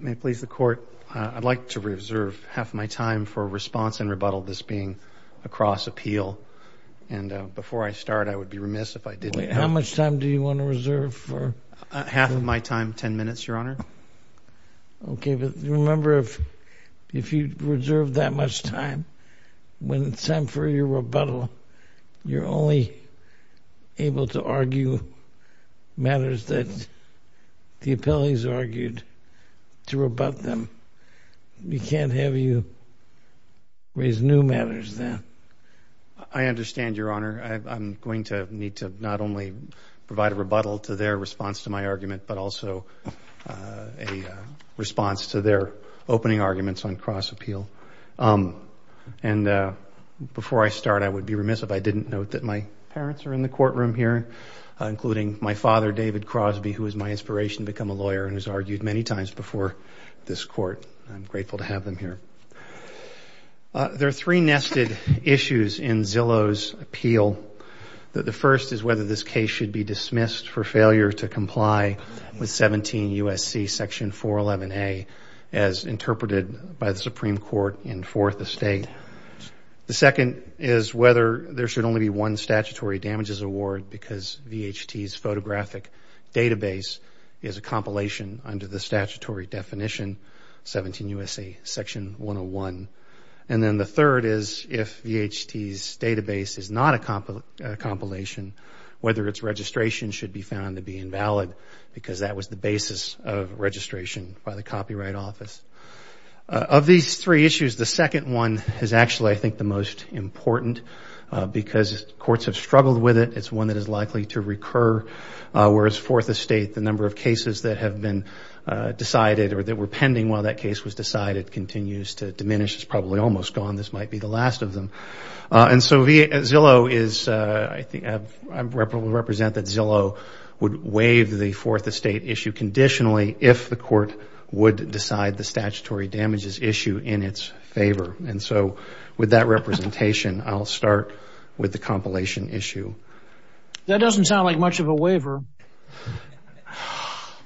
May it please the Court, I'd like to reserve half of my time for response and rebuttal, this being a cross-appeal. And before I start, I would be remiss if I didn't. How much time do you want to reserve for? Half of my time, ten minutes, Your Honor. Okay, but remember, if you reserve that much time, when it's time for your rebuttal, you're only able to argue matters that the appellees argued, to rebut them. We can't have you raise new matters then. I understand, Your Honor. I'm going to need to not only provide a rebuttal to their response to my argument, but also a response to their opening arguments on cross-appeal. And before I start, I would be remiss if I didn't. Note that my parents are in the courtroom here, including my father, David Crosby, who was my inspiration to become a lawyer and has argued many times before this Court. I'm grateful to have them here. There are three nested issues in Zillow's appeal. The first is whether this case should be dismissed for failure to comply with 17 U.S.C. section 411A, as interpreted by the Supreme Court in Fourth Estate. The second is whether there should only be one statutory damages award, because VHT's photographic database is a compilation under the statutory definition, 17 U.S.C. section 101. And then the third is if VHT's database is not a compilation, whether its registration should be found to be invalid, because that was the basis of registration by the Copyright Office. Of these three issues, the second one is actually, I think, the most important, because courts have struggled with it. It's one that is likely to recur, whereas Fourth Estate, the number of cases that have been decided or that were pending while that case was decided continues to diminish. It's probably almost gone. This might be the last of them. And so Zillow is, I think, I represent that Zillow would waive the Fourth Estate issue conditionally if the court would decide the statutory damages issue in its favor. And so with that representation, I'll start with the compilation issue. That doesn't sound like much of a waiver.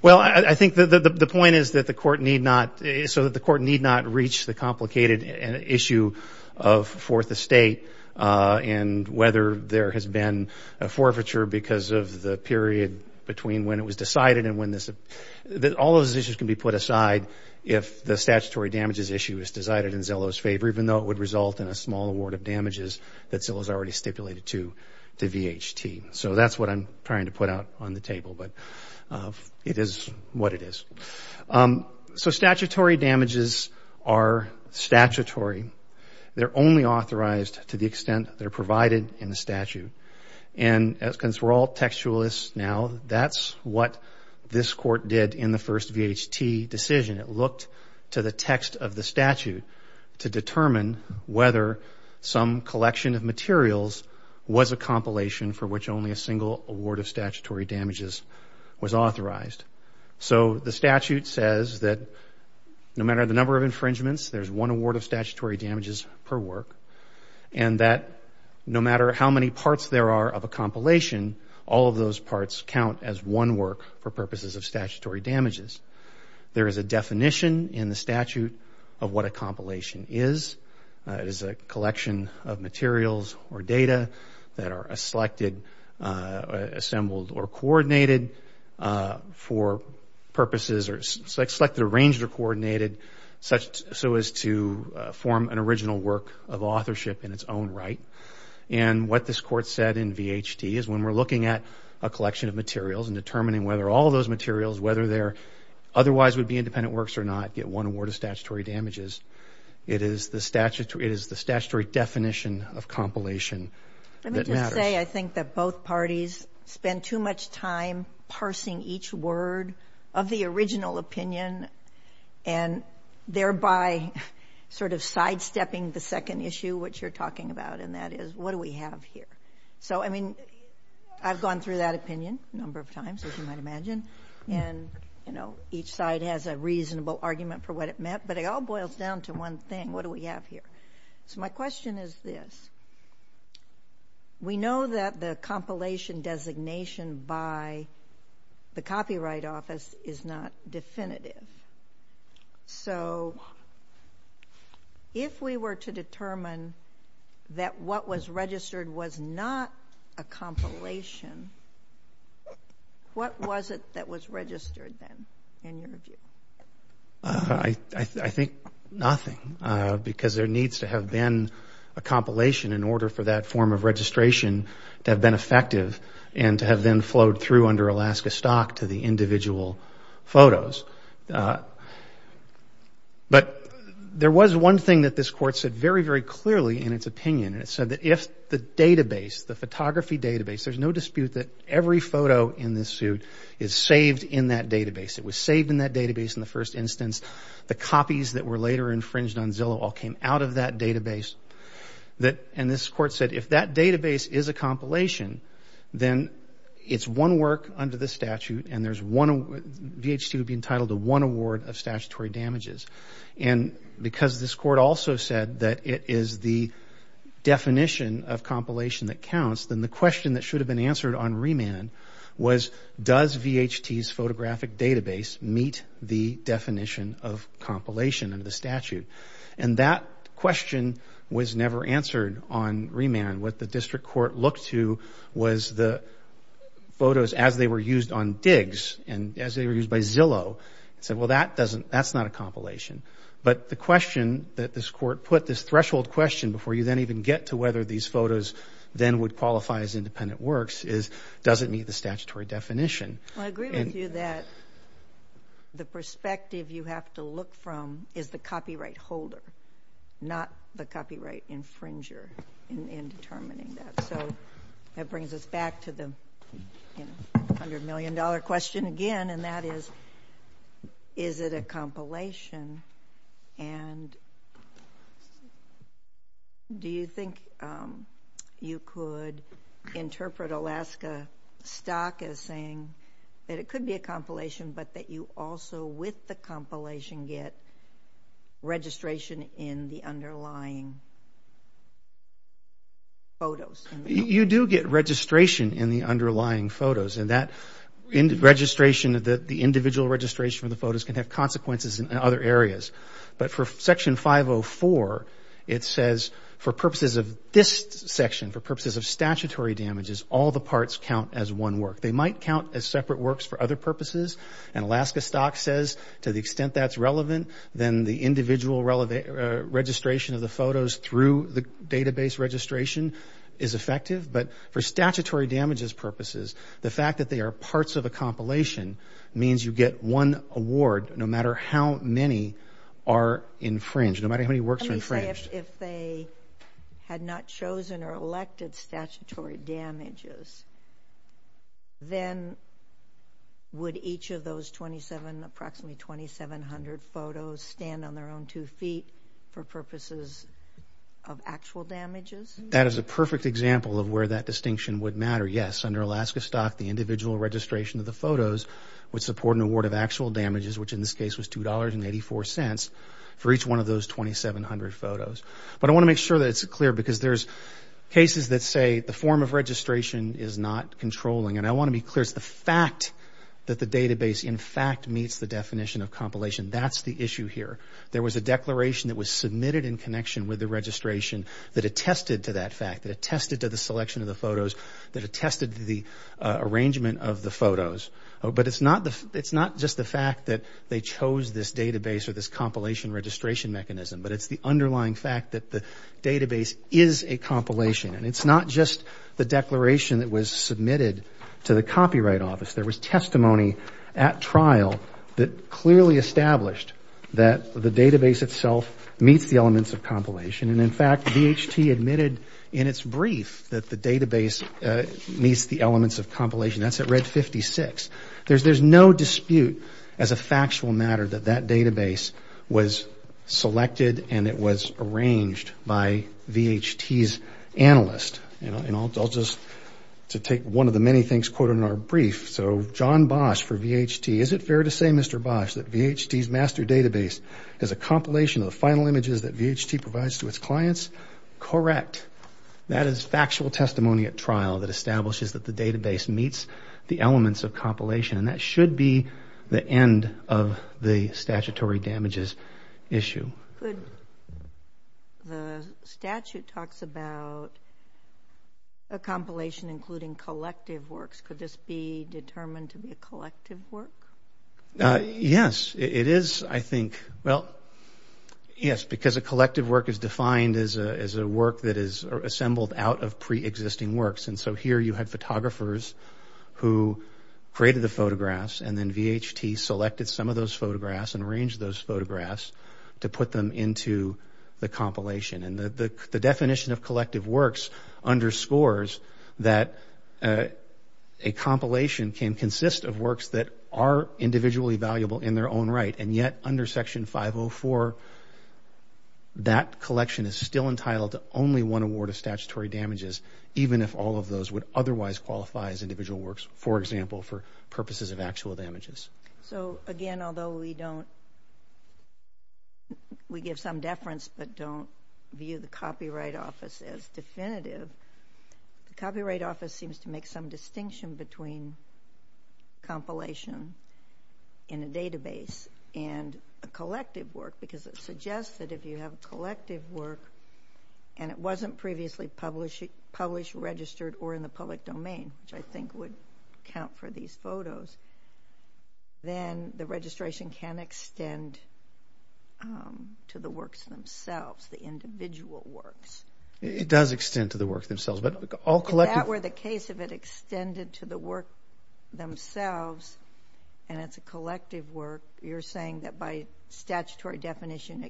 Well, I think the point is that the court need not, so that the court need not reach the complicated issue of Fourth Estate and whether there has been a forfeiture because of the period between when it was decided and when this, all those issues can be put aside if the statutory damages issue is decided in Zillow's favor, even though it would result in a small award of damages that Zillow has already stipulated to VHT. So that's what I'm trying to put out on the table, but it is what it is. So statutory damages are statutory. They're only authorized to the extent they're provided in the statute. And as we're all textualists now, that's what this court did in the first VHT decision. It looked to the text of the statute to determine whether some collection of materials was a compilation for which only a single award of statutory damages was authorized. So the statute says that no matter the number of infringements, there's one award of statutory Once there are of a compilation, all of those parts count as one work for purposes of statutory damages. There is a definition in the statute of what a compilation is. It is a collection of materials or data that are selected, assembled, or coordinated for purposes or selected, arranged, or coordinated so as to form an original work of authorship in its own right. And what this court said in VHT is when we're looking at a collection of materials and determining whether all those materials, whether they're otherwise would be independent works or not, get one award of statutory damages, it is the statutory definition of compilation that matters. Let me just say I think that both parties spend too much time parsing each word of the original opinion and thereby sort of sidestepping the second issue, which you're talking about and that is, what do we have here? So I've gone through that opinion a number of times, as you might imagine, and each side has a reasonable argument for what it meant, but it all boils down to one thing. What do we have here? So my question is this. We know that the compilation designation by the Copyright Office is not definitive. So if we were to determine that what was registered was not a compilation, what was it that was registered then, in your view? I think nothing, because there needs to have been a compilation in order for that form of registration to have been effective and to have then flowed through under Alaska Stock to the individual photos. But there was one thing that this Court said very, very clearly in its opinion, and it said that if the database, the photography database, there's no dispute that every photo in this suit is saved in that database. It was saved in that database in the first instance. The copies that were later infringed on Zillow all came out of that database, and this Court said if that database is a compilation, then it's one work under the statute and VHT would be entitled to one award of statutory damages. And because this Court also said that it is the definition of compilation that counts, then the question that should have been answered on remand was, does VHT's photographic database meet the definition of compilation under the statute? And that question was never answered on remand. What the District Court looked to was the photos as they were used on digs and as they were used by Zillow. It said, well, that doesn't, that's not a compilation. But the question that this Court put, this threshold question before you then even get to whether these photos then would qualify as independent works is, does it meet the statutory definition? Well, I agree with you that the perspective you have to look from is the copyright holder, not the copyright infringer in determining that. So that brings us back to the $100 million question again, and that is, is it a compilation? And do you think you could interpret Alaska Stock as saying that it could be a compilation, but that you also with the compilation get registration in the underlying photos? You do get registration in the underlying photos, and that registration, the individual registration from the photos can have consequences in other areas. But for Section 504, it says for purposes of this section, for purposes of statutory damages, all the parts count as one work. They might count as separate works for other purposes, and Alaska Stock says to the extent that's relevant, then the individual registration of the photos through the database registration is effective. But for statutory damages purposes, the fact that they are parts of a compilation means you get one award no matter how many are infringed, no matter how many works are infringed. Let me say, if they had not chosen or elected statutory damages, then would each of those twenty-seven, approximately twenty-seven hundred photos stand on their own two feet for purposes of actual damages? That is a perfect example of where that distinction would matter. Yes, under Alaska Stock, the individual registration of the photos would support an award of actual damages, which in this case was $2.84 for each one of those twenty-seven hundred photos. But I want to make sure that it's clear, because there's cases that say the form of registration is not controlling, and I want to be clear, it's the fact that the database in fact meets the definition of compilation. That's the issue here. There was a declaration that was submitted in connection with the registration that attested to that fact, that attested to the selection of the photos, that attested to the arrangement of the photos. But it's not just the fact that they chose this database or this compilation registration mechanism, but it's the underlying fact that the database is a compilation. And it's not just the declaration that was submitted to the Copyright Office. There was testimony at trial that clearly established that the database itself meets the elements of compilation. And in fact, VHT admitted in its brief that the database meets the elements of compilation. That's at Red 56. There's no dispute as a factual matter that that database was selected and it was arranged by VHT's analyst. And I'll just, to take one of the many things quoted in our brief, so John Bosch for VHT, is it fair to say, Mr. Bosch, that VHT's master database is a compilation of the final images that VHT provides to its clients? Correct. That is factual testimony at trial that establishes that the database meets the elements of compilation. And that should be the end of the statutory damages issue. Could, the statute talks about a compilation including collective works. Could this be determined to be a collective work? Yes. It is, I think, well, yes, because a collective work is defined as a work that is assembled out of pre-existing works. And so here you have photographers who created the photographs and then VHT selected some of those photographs and arranged those photographs to put them into the compilation. And the definition of collective works underscores that a compilation can consist of works that are individually valuable in their own right. And yet, under Section 504, that collection is still entitled to only one award of statutory damages even if all of those would otherwise qualify as individual works, for example, for purposes of actual damages. So again, although we don't, we give some deference but don't view the Copyright Office as definitive, the Copyright Office seems to make some distinction between compilation in a database and a collective work because it suggests that if you have a collective work and it wasn't previously published, registered, or in the public domain, which I think would count for these photos, then the registration can extend to the works themselves, the individual works. It does extend to the works themselves. But all collective... If that were the case, if it extended to the work themselves, and it's a collective work, you're saying that by statutory definition,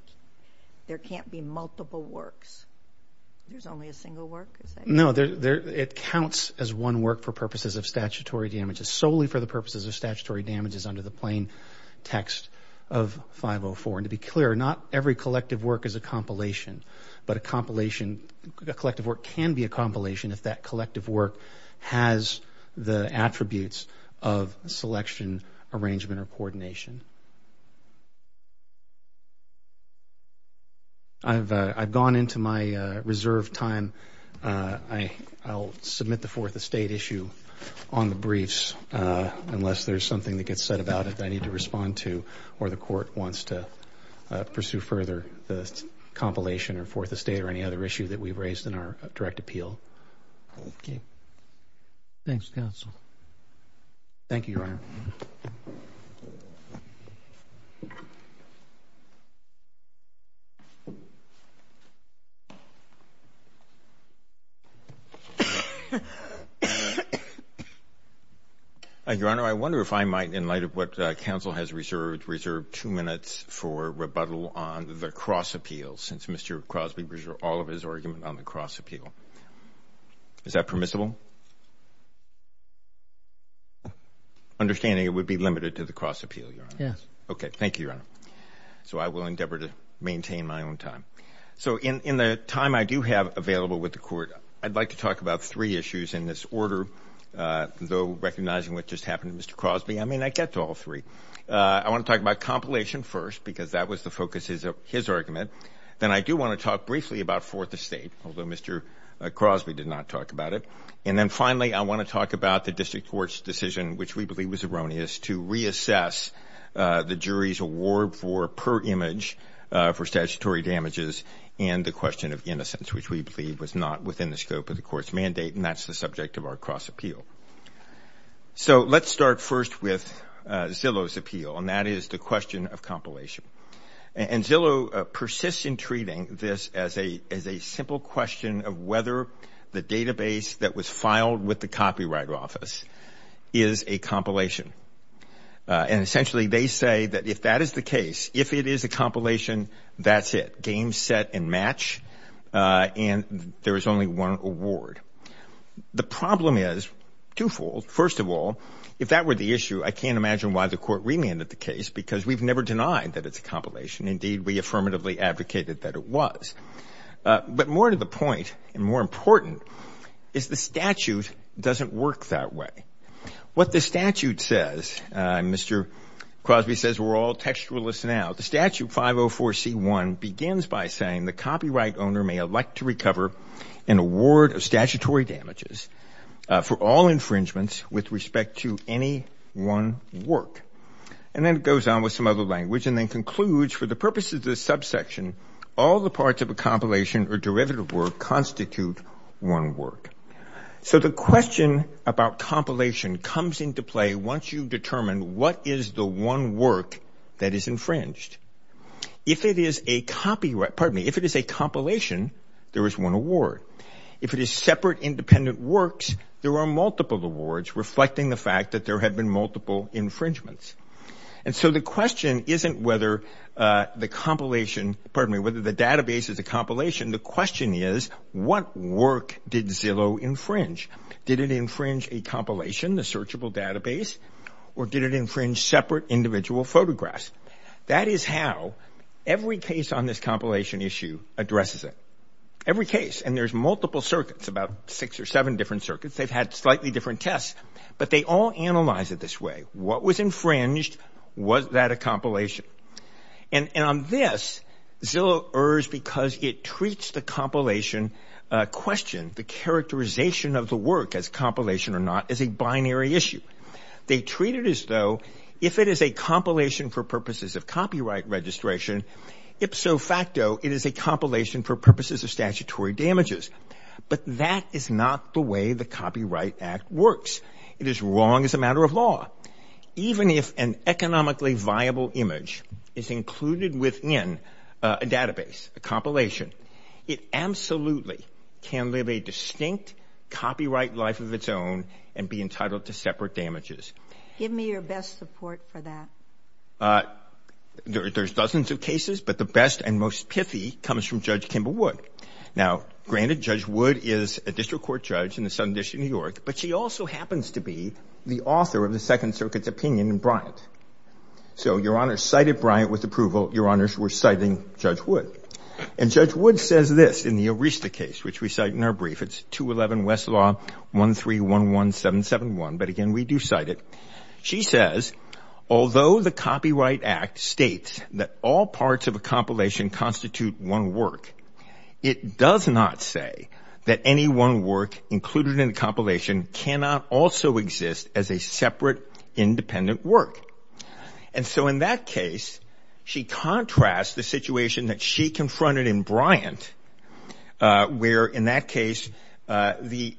there can't be multiple works? There's only a single work? No, it counts as one work for purposes of statutory damages, solely for the purposes of statutory damages under the plain text of 504. And to be clear, not every collective work is a compilation. But a compilation, a collective work can be a compilation if that collective work has the attributes of selection, arrangement, or coordination. I've gone into my reserved time. I'll submit the Fourth Estate issue on the briefs unless there's something that gets said about it that I need to respond to or the court wants to pursue further the compilation or Fourth Estate or any other issue that we've raised in our direct appeal. Okay. Thank you, Your Honor. Your Honor, I wonder if I might, in light of what counsel has reserved, reserve two minutes for rebuttal on the cross appeal, since Mr. Crosby reserved all of his argument on the cross appeal. Is that permissible? Understanding it would be limited to the cross appeal, Your Honor. Yes. Okay. Thank you, Your Honor. So I will endeavor to maintain my own time. So in the time I do have available with the court, I'd like to talk about three issues in this order, though recognizing what just happened to Mr. Crosby, I may not get to all three. I want to talk about compilation first because that was the focus of his argument. Then I do want to talk briefly about Fourth Estate, although Mr. Crosby did not talk about it. And then finally, I want to talk about the district court's decision, which we believe was erroneous, to reassess the jury's award for per image for statutory damages and the question of innocence, which we believe was not within the scope of the court's mandate, and that's the subject of our cross appeal. So let's start first with Zillow's appeal, and that is the question of compilation. And Zillow persists in treating this as a simple question of whether the database that was filed with the Copyright Office is a compilation. And essentially, they say that if that is the case, if it is a compilation, that's it. Game set and match, and there is only one award. The problem is twofold. First of all, if that were the issue, I can't imagine why the court remanded the case because we've never denied that it's a compilation. Indeed, we affirmatively advocated that it was. But more to the point, and more important, is the statute doesn't work that way. What the statute says, Mr. Crosby says we're all textualists now, the statute 504C1 begins by saying the copyright owner may elect to recover an award of statutory damages for all infringements with respect to any one work. And then it goes on with some other language and then concludes, for the purposes of this subsection, all the parts of a compilation or derivative work constitute one work. So the question about compilation comes into play once you determine what is the one work that is infringed. If it is a copyright, pardon me, if it is a compilation, there is one award. If it is separate independent works, there are multiple awards reflecting the fact that there have been multiple infringements. And so the question isn't whether the compilation, pardon me, whether the database is a compilation, the question is what work did Zillow infringe? Did it infringe a compilation, the searchable database, or did it infringe separate individual photographs? That is how every case on this compilation issue addresses it. Every case. And there's multiple circuits, about six or seven different circuits, they've had slightly different tests. But they all analyze it this way. What was infringed? Was that a compilation? And on this, Zillow errs because it treats the compilation question, the characterization of the work as compilation or not, as a binary issue. They treat it as though if it is a compilation for purposes of copyright registration, ipso facto it is a compilation for purposes of statutory damages. But that is not the way the Copyright Act works. It is wrong as a matter of law. Even if an economically viable image is included within a database, a compilation, it absolutely can live a distinct copyright life of its own and be entitled to separate damages. Give me your best support for that. There's dozens of cases, but the best and most pithy comes from Judge Kimball Wood. Now, granted, Judge Wood is a district court judge in the Southern District of New York, but she also happens to be the author of the Second Circuit's opinion in Bryant. So Your Honor cited Bryant with approval, Your Honors, we're citing Judge Wood. And Judge Wood says this in the Arista case, which we cite in our brief, it's 211 West Law 1311771, but again, we do cite it. She says, although the Copyright Act states that all parts of a compilation constitute one work, it does not say that any one work included in a compilation cannot also exist as a separate independent work. And so in that case, she contrasts the situation that she confronted in Bryant, where in that them as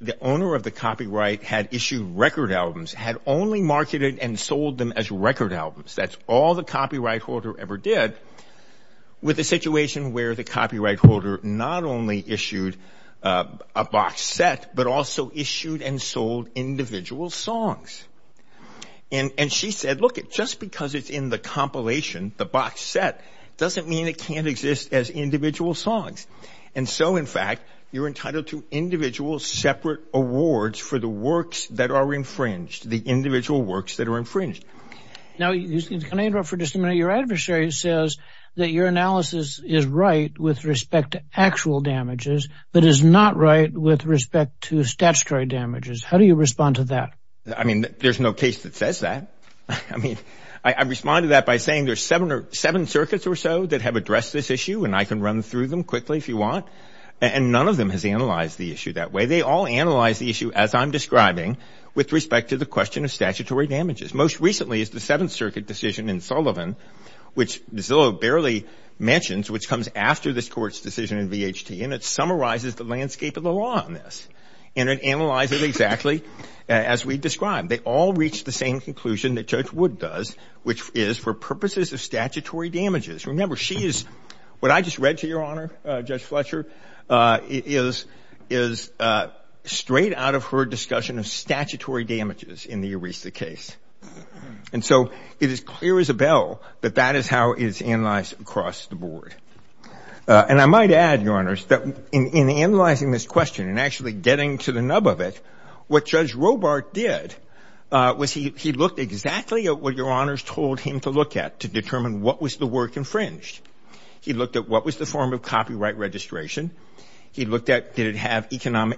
record albums, that's all the copyright holder ever did, with a situation where the copyright holder not only issued a box set, but also issued and sold individual songs. And she said, look, just because it's in the compilation, the box set, doesn't mean it can't exist as individual songs. And so in fact, you're entitled to individual separate awards for the works that are infringed, the individual works that are infringed. Now, can I interrupt for just a minute? Your adversary says that your analysis is right with respect to actual damages, but is not right with respect to statutory damages. How do you respond to that? I mean, there's no case that says that. I mean, I respond to that by saying there's seven or seven circuits or so that have addressed this issue. And I can run through them quickly if you want. And none of them has analyzed the issue that way. They all analyze the issue, as I'm describing, with respect to the question of statutory damages. Most recently is the Seventh Circuit decision in Sullivan, which Zillow barely mentions, which comes after this court's decision in VHT. And it summarizes the landscape of the law on this. And it analyzes it exactly as we described. They all reached the same conclusion that Judge Wood does, which is for purposes of statutory damages. Remember, what I just read to your Honor, Judge Fletcher, is straight out of her discussion of statutory damages in the ERISA case. And so it is clear as a bell that that is how it is analyzed across the board. And I might add, Your Honors, that in analyzing this question and actually getting to the nub of it, what Judge Robart did was he looked exactly at what Your Honors told him to look at to determine what was the work infringed. He looked at what was the form of copyright registration. He looked at did it have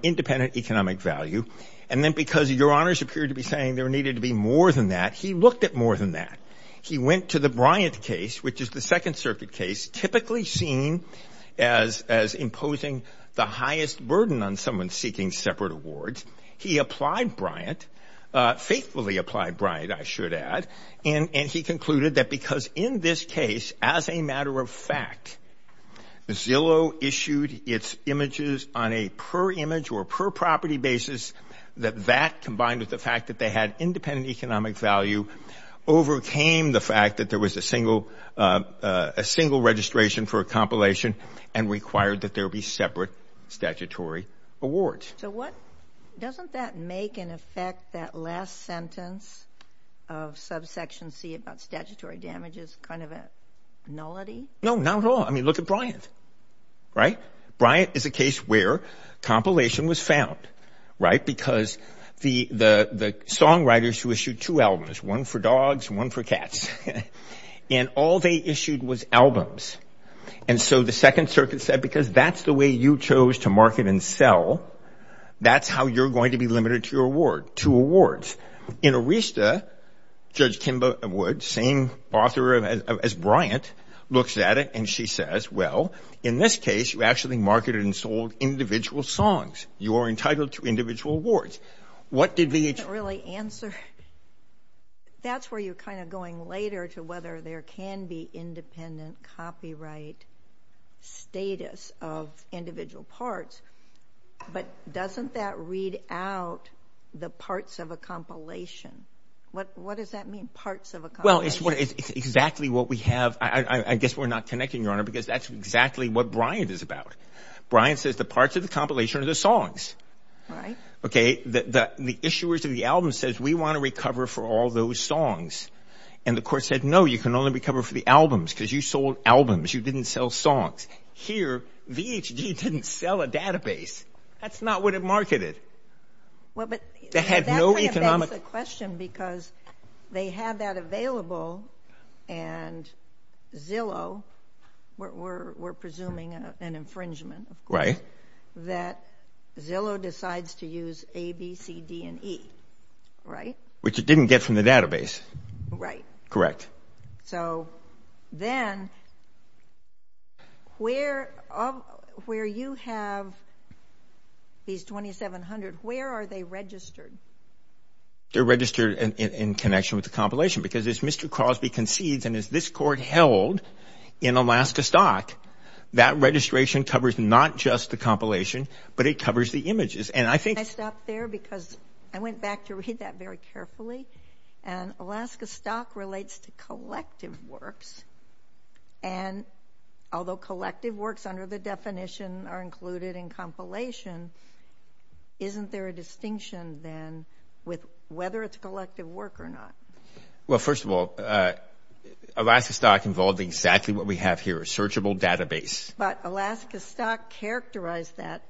independent economic value. And then because Your Honors appeared to be saying there needed to be more than that, he looked at more than that. He went to the Bryant case, which is the Second Circuit case, typically seen as imposing the highest burden on someone seeking separate awards. He applied Bryant, faithfully applied Bryant, I should add. And he concluded that because in this case, as a matter of fact, Zillow issued its images on a per image or per property basis, that that combined with the fact that they had independent economic value overcame the fact that there was a single a single registration for a compilation and required that there be separate statutory awards. So what doesn't that make an effect that last sentence of subsection C about statutory damages kind of a nullity? No, not at all. I mean, look at Bryant, right? Bryant is a case where compilation was found, right? Because the the songwriters who issued two albums, one for dogs, one for cats, and all they issued was albums. And so the Second Circuit said, because that's the way you chose to market and sell, that's how you're going to be limited to your award, to awards. In Arista, Judge Kimba Wood, same author as Bryant, looks at it and she says, well, in this case, you actually marketed and sold individual songs. You are entitled to individual awards. What did the... I can't really answer. That's where you're kind of going later to whether there can be independent copyright status of individual parts. But doesn't that read out the parts of a compilation? What does that mean? Parts of a compilation? Well, it's exactly what we have. I guess we're not connecting, Your Honor, because that's exactly what Bryant is about. Bryant says the parts of the compilation are the songs. Right. OK. The issuers of the album says we want to recover for all those songs. And the court said, no, you can only recover for the albums because you sold albums. You didn't sell songs. Here, VHG didn't sell a database. That's not what it marketed. Well, but they had no economic... That kind of begs the question because they had that available and Zillow, we're presuming an infringement that Zillow decides to use A, B, C, D, and E, right? Which it didn't get from the database. Right. Correct. So then where you have these 2,700, where are they registered? They're registered in connection with the compilation because as Mr. Registration covers not just the compilation, but it covers the images. And I think... Can I stop there because I went back to read that very carefully. And Alaska Stock relates to collective works. And although collective works under the definition are included in compilation, isn't there a distinction then with whether it's collective work or not? Well, first of all, Alaska Stock involved exactly what we have here, a searchable database. But Alaska Stock characterized that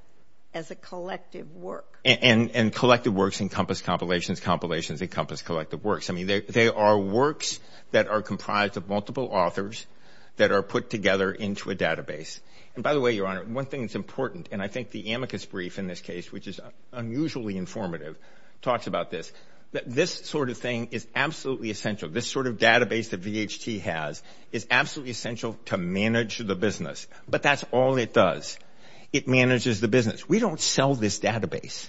as a collective work. And collective works encompass compilations, compilations encompass collective works. I mean, they are works that are comprised of multiple authors that are put together into a database. And by the way, Your Honor, one thing that's important, and I think the amicus brief in this case, which is unusually informative, talks about this. This sort of thing is absolutely essential. This sort of database that VHT has is absolutely essential to manage the business. But that's all it does. It manages the business. We don't sell this database.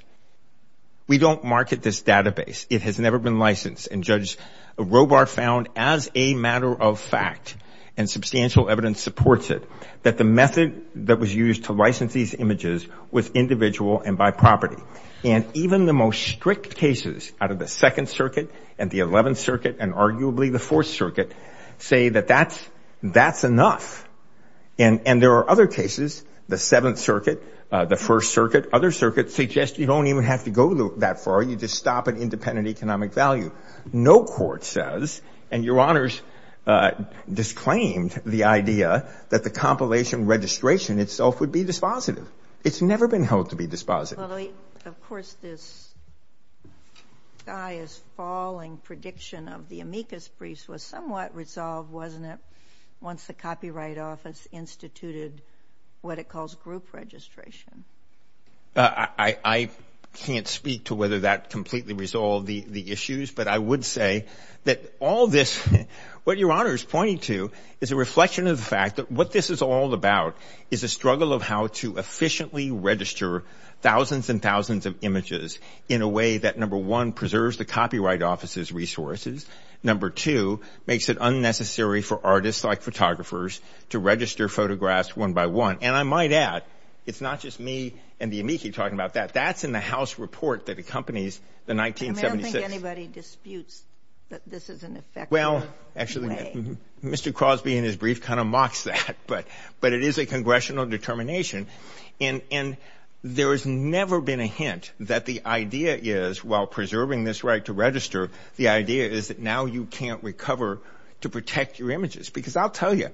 We don't market this database. It has never been licensed. And Judge Robar found as a matter of fact, and substantial evidence supports it, that the method that was used to license these images was individual and by property. And even the most strict cases out of the Second Circuit and the Eleventh Circuit and arguably the Fourth Circuit say that that's enough. And there are other cases, the Seventh Circuit, the First Circuit, other circuits, suggest you don't even have to go that far. You just stop at independent economic value. No court says, and Your Honors disclaimed the idea that the compilation registration itself would be dispositive. It's never been held to be dispositive. Of course, this guy is falling prediction of the amicus briefs was somewhat resolved, wasn't it? Once the Copyright Office instituted what it calls group registration. I can't speak to whether that completely resolved the issues, but I would say that all this, what Your Honor is pointing to is a reflection of the fact that what this is all about is a struggle of how to efficiently register thousands and thousands of images in a way that, number one, preserves the Copyright Office's resources. Number two, makes it unnecessary for artists like photographers to register photographs one by one. And I might add, it's not just me and the amici talking about that. That's in the House report that accompanies the 1976. I don't think anybody disputes that this is an effective way. Well, actually, Mr. Crosby in his brief kind of mocks that, but it is a congressional determination. And there has never been a hint that the idea is, while preserving this right to register, the idea is that now you can't recover to protect your images. Because I'll tell you,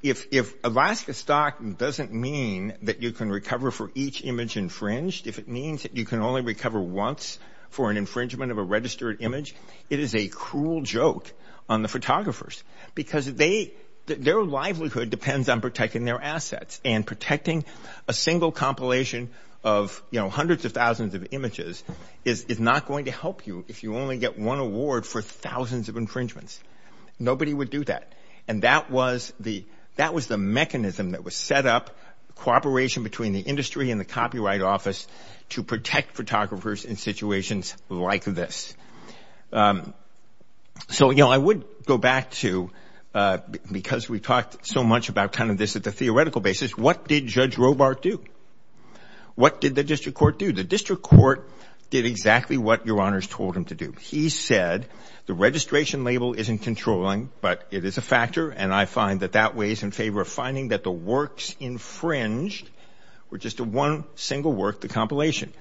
if Alaska stock doesn't mean that you can recover for each image infringed, if it means that you can only recover once for an infringement of a registered image, it is a cruel joke on the photographers. Because their livelihood depends on protecting their assets. And protecting a single compilation of hundreds of thousands of images is not going to help you if you only get one award for thousands of infringements. Nobody would do that. And that was the mechanism that was set up, cooperation between the industry and the Copyright Office, to protect photographers in situations like this. So, you know, I would go back to, because we talked so much about kind of this at the theoretical basis, what did Judge Robart do? What did the district court do? The district court did exactly what your honors told him to do. He said, the registration label isn't controlling, but it is a factor. And I find that that weighs in favor of finding that the works infringed were just one single work, the compilation.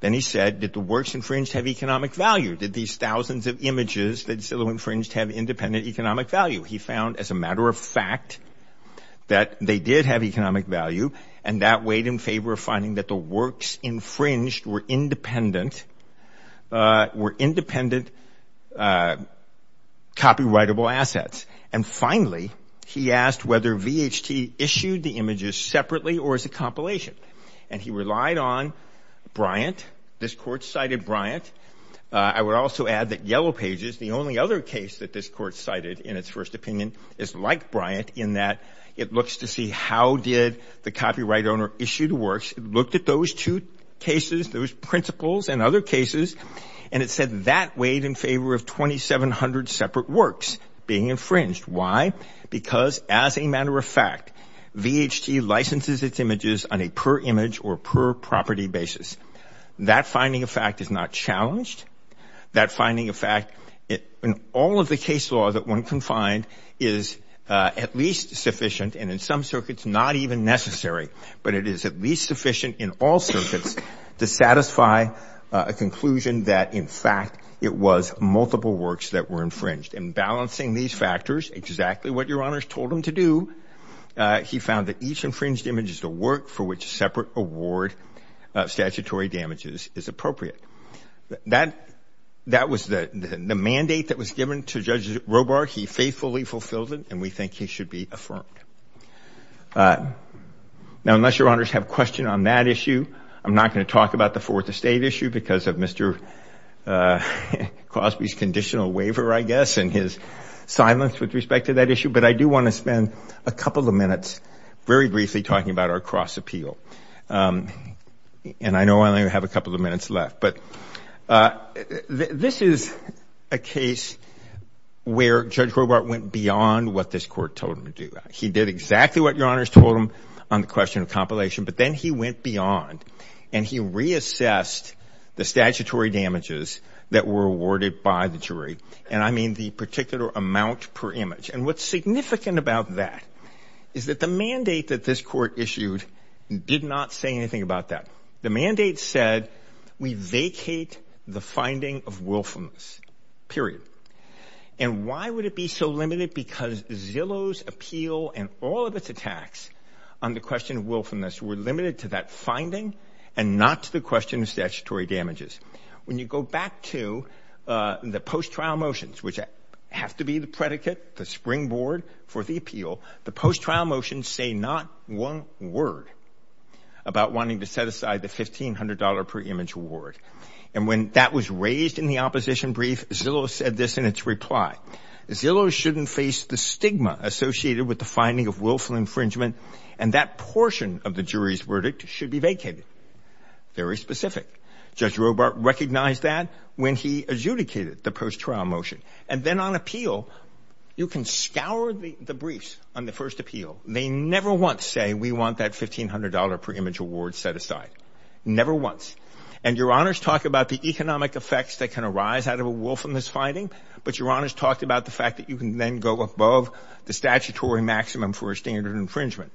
Then he said, did the works infringed have economic value? Did these thousands of images that Zillow infringed have independent economic value? He found, as a matter of fact, that they did have economic value. And that weighed in favor of finding that the works infringed were independent, were independent copyrightable assets. And finally, he asked whether VHT issued the images separately or as a compilation. And he relied on Bryant. This court cited Bryant. I would also add that Yellow Pages, the only other case that this court cited in its first opinion, is like Bryant in that it looks to see how did the copyright owner issued works, looked at those two cases, those principles and other cases. And it said that weighed in favor of 2,700 separate works being infringed. Why? Because as a matter of fact, VHT licenses its images on a per image or per property basis. That finding of fact is not challenged. That finding of fact, in all of the case law that one can find, is at least sufficient and in some circuits not even necessary. But it is at least sufficient in all circuits to satisfy a conclusion that, in fact, it was multiple works that were infringed. And balancing these factors, exactly what Your Honors told him to do, he found that each infringed image is the work for which separate award statutory damages is appropriate. That was the mandate that was given to Judge Robar. He faithfully fulfilled it, and we think he should be affirmed. Now, unless Your Honors have a question on that issue, I'm not going to talk about the Fourth Estate issue because of Mr. Cosby's conditional waiver, I guess. And his silence with respect to that issue. But I do want to spend a couple of minutes, very briefly, talking about our cross appeal. And I know I only have a couple of minutes left. But this is a case where Judge Robar went beyond what this court told him to do. He did exactly what Your Honors told him on the question of compilation, but then he went beyond and he reassessed the statutory damages that were awarded by the jury. And I mean the particular amount per image. And what's significant about that is that the mandate that this court issued did not say anything about that. The mandate said we vacate the finding of willfulness, period. And why would it be so limited? Because Zillow's appeal and all of its attacks on the question of willfulness were limited to that finding and not to the question of statutory damages. When you go back to the post-trial motions, which have to be the predicate, the springboard for the appeal, the post-trial motions say not one word about wanting to set aside the $1,500 per image award. And when that was raised in the opposition brief, Zillow said this in its reply. Zillow shouldn't face the stigma associated with the finding of willful infringement. And that portion of the jury's verdict should be vacated. Very specific. Judge Robart recognized that when he adjudicated the post-trial motion. And then on appeal, you can scour the briefs on the first appeal. They never once say we want that $1,500 per image award set aside. Never once. And your honors talk about the economic effects that can arise out of a willfulness finding, but your honors talked about the fact that you can then go above the statutory maximum for a standard infringement.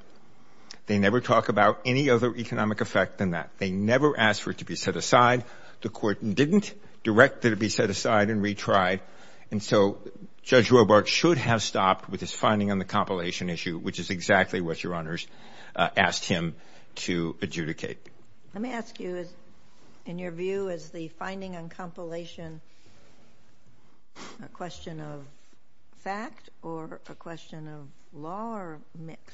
They never talk about any other economic effect than that. They never asked for it to be set aside. The court didn't direct that it be set aside and retried. And so Judge Robart should have stopped with his finding on the compilation issue, which is exactly what your honors asked him to adjudicate. Let me ask you, in your view, is the finding on compilation a question of fact or a question of law or mix?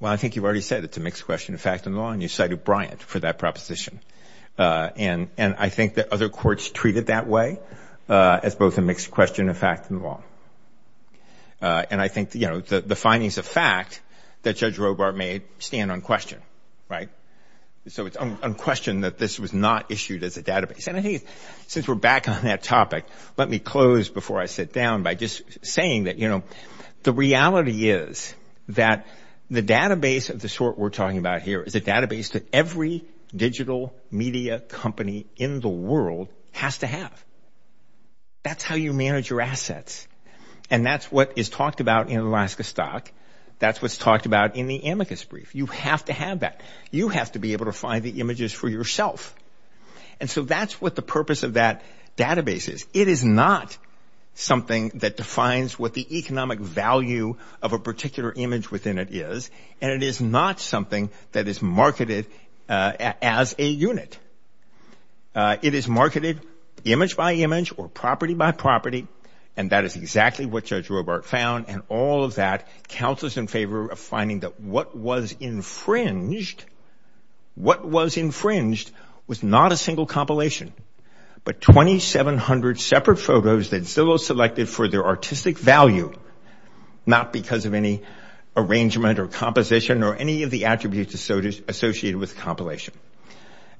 Well, I think you've already said it's a mixed question of fact and law, and you cited Bryant for that proposition. And I think that other courts treat it that way as both a mixed question of fact and law. And I think, you know, the findings of fact that Judge Robart made stand unquestioned, right? So it's unquestioned that this was not issued as a database. And I think since we're back on that topic, let me close before I sit down by just saying that, you know, the reality is that the database of the sort we're talking about here is a database that every digital media company in the world has to have. That's how you manage your assets. And that's what is talked about in Alaska Stock. That's what's talked about in the amicus brief. You have to have that. You have to be able to find the images for yourself. And so that's what the purpose of that database is. It is not something that defines what the economic value of a particular image within it is. And it is not something that is marketed as a unit. It is marketed image by image or property by property. And that is exactly what Judge Robart found. And all of that counts us in favor of finding that what was infringed, what was infringed was not a single compilation, but 2700 separate photos that Zillow selected for their artistic value, not because of any arrangement or composition or any of the attributes associated with compilation.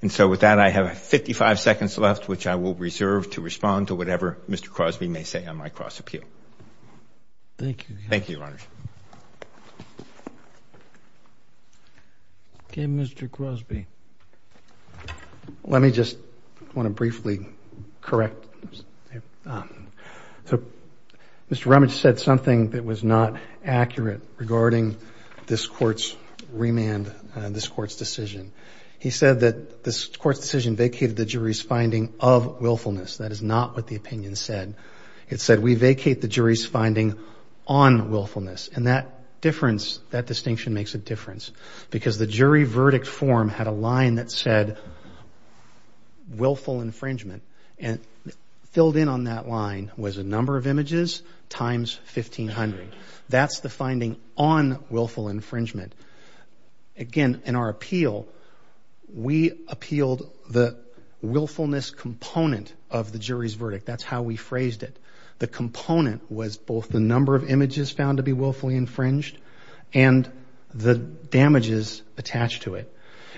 And so with that, I have 55 seconds left, which I will reserve to respond to whatever Mr. Crosby may say on my cross appeal. Thank you. Thank you, Your Honor. Okay, Mr. Crosby. Let me just want to briefly correct. So Mr. Rummage said something that was not accurate regarding this court's remand, this court's decision. He said that this court's decision vacated the jury's finding of willfulness. That is not what the opinion said. It said we vacate the jury's finding on willfulness. And that difference, that distinction makes a difference. Because the jury verdict form had a line that said willful infringement and filled in on that line was a number of images times 1500. That's the finding on willful infringement. Again, in our appeal, we appealed the willfulness component of the jury's verdict. That's how we phrased it. The component was both the number of images found to be willfully infringed and the damages attached to it.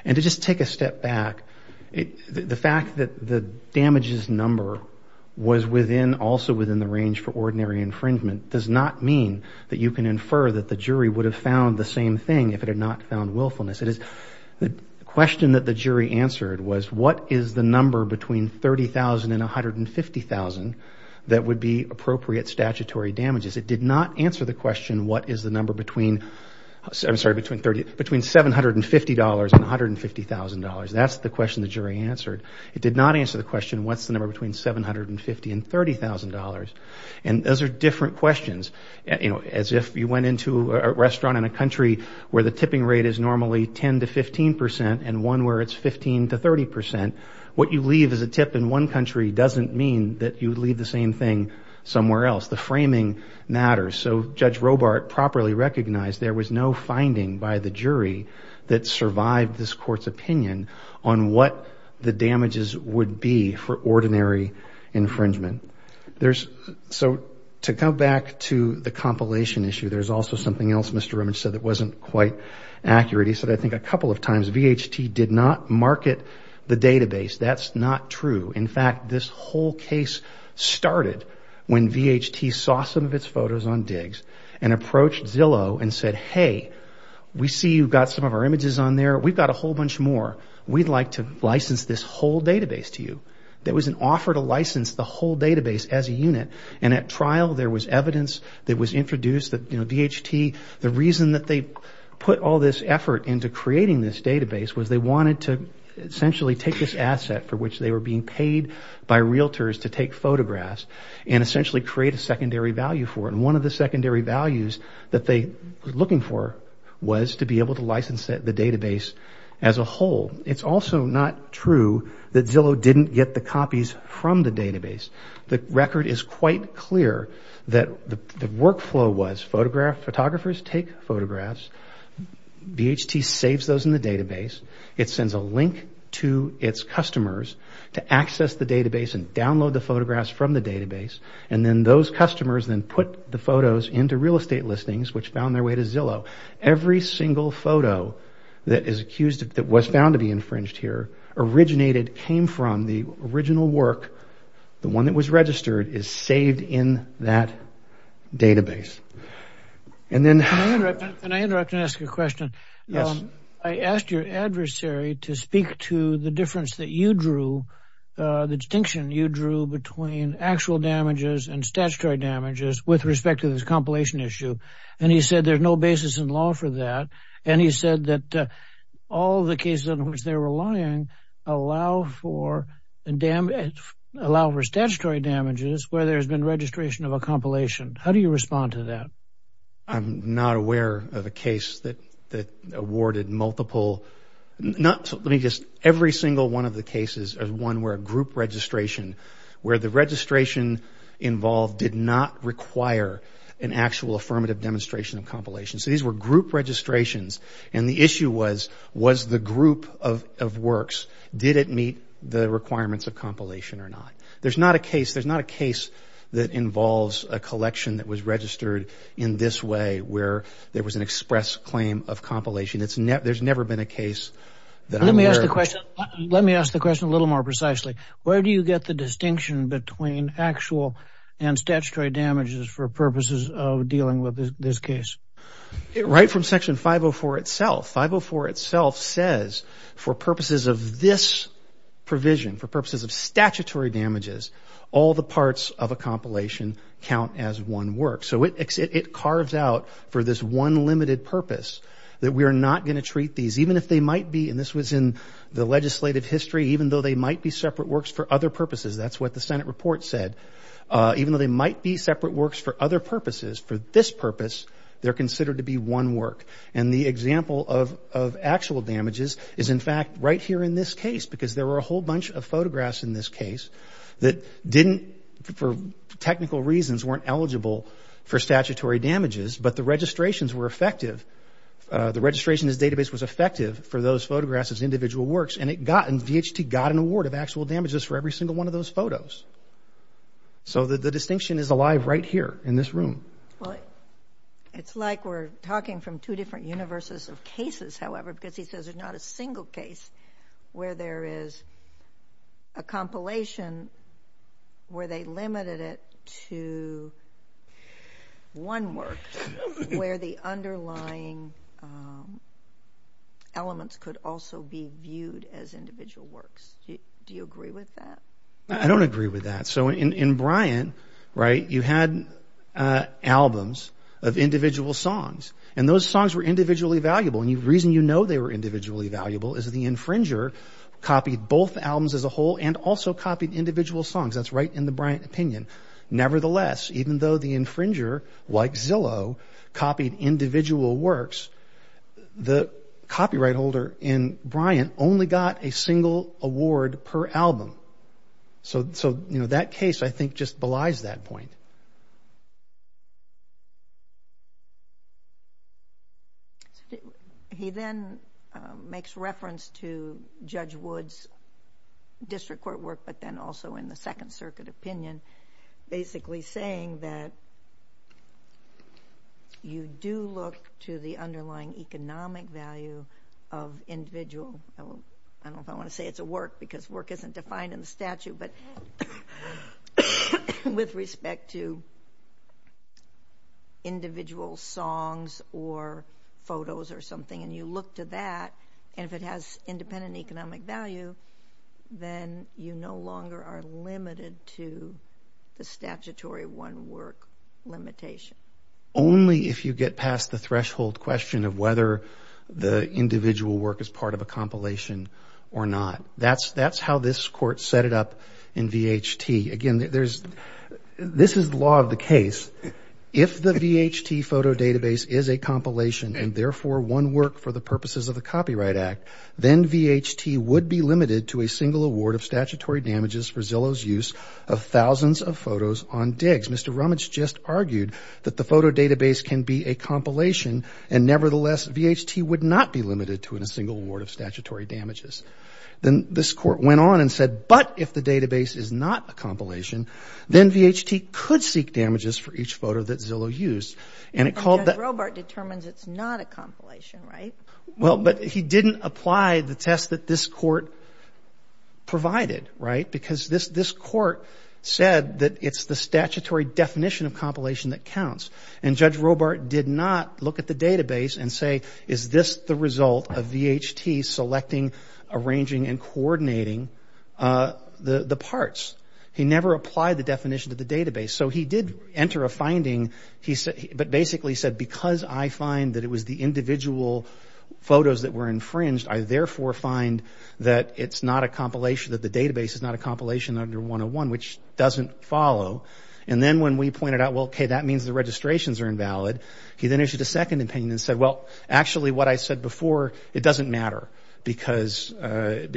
And to just take a step back, the fact that the damages number was also within the range for ordinary infringement does not mean that you can infer that the jury would have found the same thing if it had not found willfulness. The question that the jury answered was what is the number between $30,000 and $150,000 that would be appropriate statutory damages. It did not answer the question what is the number between $750,000 and $150,000. That's the question the jury answered. It did not answer the question what's the number between $750,000 and $30,000. And those are different questions. As if you went into a restaurant in a country where the tipping rate is normally 10% to 15% and one where it's 15% to 30%, what you leave as a tip in one country doesn't mean that you leave the same thing somewhere else. The framing matters. So Judge Robart properly recognized there was no finding by the jury that survived this court's opinion on what the damages would be for ordinary infringement. So to come back to the compilation issue, there's also something else Mr. Remage said that wasn't quite accurate. He said I think a couple of times VHT did not market the database. That's not true. In fact, this whole case started when VHT saw some of its photos on digs and approached Zillow and said, hey, we see you've got some of our images on there. We've got a whole bunch more. We'd like to license this whole database to you. There was an offer to license the whole database as a unit. And at trial there was evidence that was introduced that VHT, the reason that they put all this effort into creating this database was they wanted to essentially take this asset for which they were being paid by realtors to take photographs and essentially create a secondary value for it. And one of the secondary values that they were looking for was to be able to license the database as a whole. It's also not true that Zillow didn't get the copies from the database. The record is quite clear that the workflow was photographers take photographs. VHT saves those in the database. It sends a link to its customers to access the database and download the photographs from the database. And then those customers then put the photos into real estate listings which found their way to Zillow. Every single photo that was found to be infringed here originated, came from the original work. The one that was registered is saved in that database. Can I interrupt and ask a question? Yes. I asked your adversary to speak to the difference that you drew, the distinction you drew between actual damages and statutory damages with respect to this compilation issue. And he said there's no basis in law for that. And he said that all the cases in which they were lying allow for statutory damages where there's been registration of a compilation. How do you respond to that? I'm not aware of a case that awarded multiple. Let me just, every single one of the cases is one where a group registration, where the registration involved did not require an actual affirmative demonstration of compilation. So these were group registrations. And the issue was, was the group of works, did it meet the requirements of compilation or not? There's not a case that involves a collection that was registered in this way where there was an express claim of compilation. There's never been a case that I'm aware of. Let me ask the question a little more precisely. Where do you get the distinction between actual and statutory damages for purposes of dealing with this case? Right from Section 504 itself. 504 itself says for purposes of this provision, for purposes of statutory damages, all the parts of a compilation count as one work. So it carves out for this one limited purpose that we are not going to treat these, even if they might be, and this was in the legislative history, even though they might be separate works for other purposes. That's what the Senate report said. Even though they might be separate works for other purposes, for this purpose, they're considered to be one work. And the example of actual damages is, in fact, right here in this case, because there were a whole bunch of photographs in this case that didn't, for technical reasons, weren't eligible for statutory damages, but the registrations were effective. The registration as database was effective for those photographs as individual works, and it got, and VHT got an award of actual damages for every single one of those photos. So the distinction is alive right here in this room. Well, it's like we're talking from two different universes of cases, however, because he says there's not a single case where there is a compilation where they limited it to one work, where the underlying elements could also be viewed as individual works. Do you agree with that? I don't agree with that. So in Bryant, right, you had albums of individual songs, and those songs were individually valuable, and the reason you know they were individually valuable is the infringer copied both albums as a whole and also copied individual songs. That's right in the Bryant opinion. Nevertheless, even though the infringer, like Zillow, copied individual works, the copyright holder in Bryant only got a single award per album. So, you know, that case I think just belies that point. He then makes reference to Judge Wood's district court work, but then also in the Second Circuit opinion, basically saying that you do look to the underlying economic value of individual. I don't know if I want to say it's a work because work isn't defined in the statute, but with respect to individual songs or photos or something, and you look to that, and if it has independent economic value, then you no longer are limited to the statutory one work limitation. Only if you get past the threshold question of whether the individual work is part of a compilation or not. That's how this court set it up in VHT. Again, this is the law of the case. If the VHT photo database is a compilation and therefore one work for the purposes of the Copyright Act, then VHT would be limited to a single award of statutory damages for Zillow's use of thousands of photos on digs. Mr. Rummage just argued that the photo database can be a compilation, and nevertheless VHT would not be limited to a single award of statutory damages. Then this court went on and said, but if the database is not a compilation, then VHT could seek damages for each photo that Zillow used. And it called that... But Judge Robart determines it's not a compilation, right? Well, but he didn't apply the test that this court provided, right? Because this court said that it's the statutory definition of compilation that counts. And Judge Robart did not look at the database and say, is this the result of VHT selecting, arranging, and coordinating the parts? He never applied the definition to the database. So he did enter a finding, but basically said, because I find that it was the individual photos that were infringed, I therefore find that it's not a compilation, that the database is not a compilation under 101, which doesn't follow. And then when we pointed out, well, okay, that means the registrations are invalid, he then issued a second opinion and said, well, actually what I said before, it doesn't matter because I said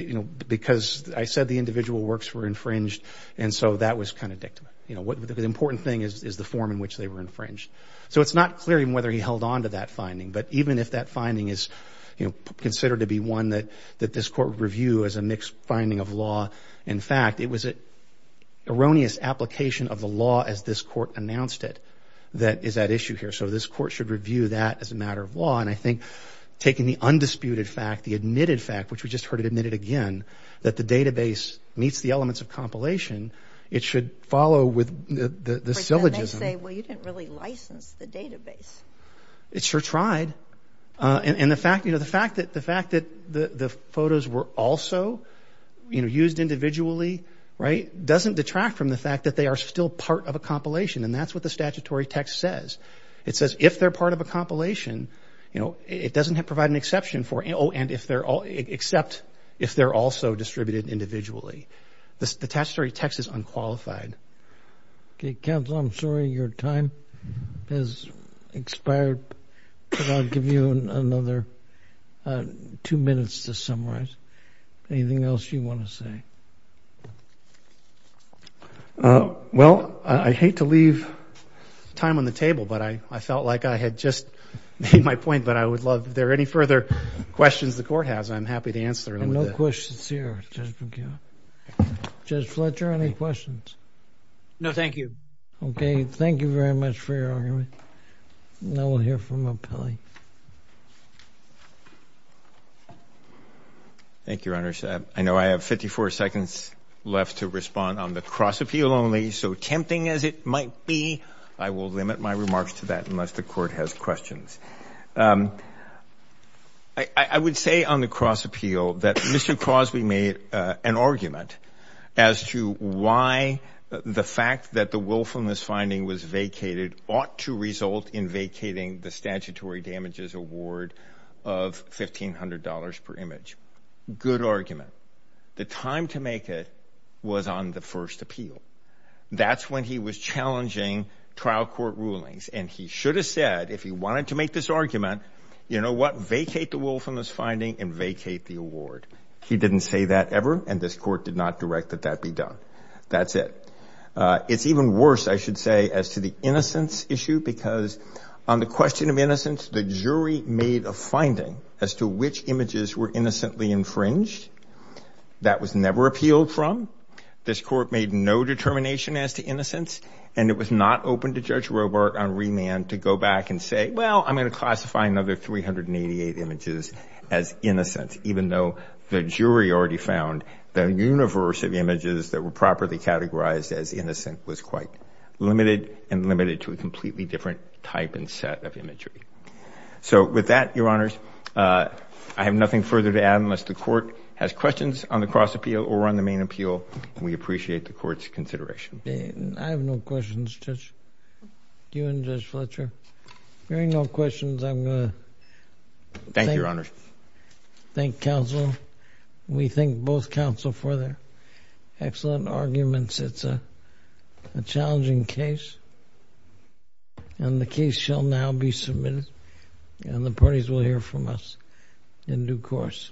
the individual works were infringed, and so that was kind of dictum. The important thing is the form in which they were infringed. So it's not clear even whether he held on to that finding, but even if that finding is considered to be one that this court would review as a mixed finding of law, in fact, it was an erroneous application of the law as this court announced it that is at issue here. So this court should review that as a matter of law. And I think taking the undisputed fact, the admitted fact, which we just heard it admitted again, that the database meets the elements of compilation, it should follow with the syllogism. But then they say, well, you didn't really license the database. It sure tried. And the fact that the photos were also used individually, right, doesn't detract from the fact that they are still part of a compilation, and that's what the statutory text says. It says if they're part of a compilation, you know, it doesn't provide an exception for, oh, and if they're all, except if they're also distributed individually. The statutory text is unqualified. Okay, counsel, I'm sorry your time has expired, but I'll give you another two minutes to summarize. Anything else you want to say? Well, I hate to leave time on the table, but I felt like I had just made my point, but I would love if there are any further questions the court has, I'm happy to answer them. No questions here, Judge McKeon. Judge Fletcher, any questions? No, thank you. Okay, thank you very much for your argument. Now we'll hear from appellee. Thank you, Your Honors. I know I have 54 seconds left to respond on the cross-appeal only, so tempting as it might be, I will limit my remarks to that unless the court has questions. I would say on the cross-appeal that Mr. Crosby made an argument as to why the fact that the willfulness finding was vacated ought to result in vacating the statutory damages award of $1,500 per image. Good argument. The time to make it was on the first appeal. That's when he was challenging trial court rulings, and he should have said, if he wanted to make this argument, you know what, vacate the willfulness finding and vacate the award. He didn't say that ever, and this court did not direct that that be done. That's it. It's even worse, I should say, as to the innocence issue, because on the question of innocence, the jury made a finding as to which images were innocently infringed. This court made no determination as to innocence, and it was not open to Judge Robart on remand to go back and say, well, I'm going to classify another 388 images as innocence, even though the jury already found the universe of images that were properly categorized as innocent was quite limited and limited to a completely different type and set of imagery. So with that, Your Honors, I have nothing further to add unless the court has questions on the cross-appeal or on the main appeal, and we appreciate the court's consideration. I have no questions, Judge. You and Judge Fletcher. If there are no questions, I'm going to thank counsel. We thank both counsel for their excellent arguments. It's a challenging case, and the case shall now be submitted, and the parties will hear from us in due course. Thank you, Your Honors.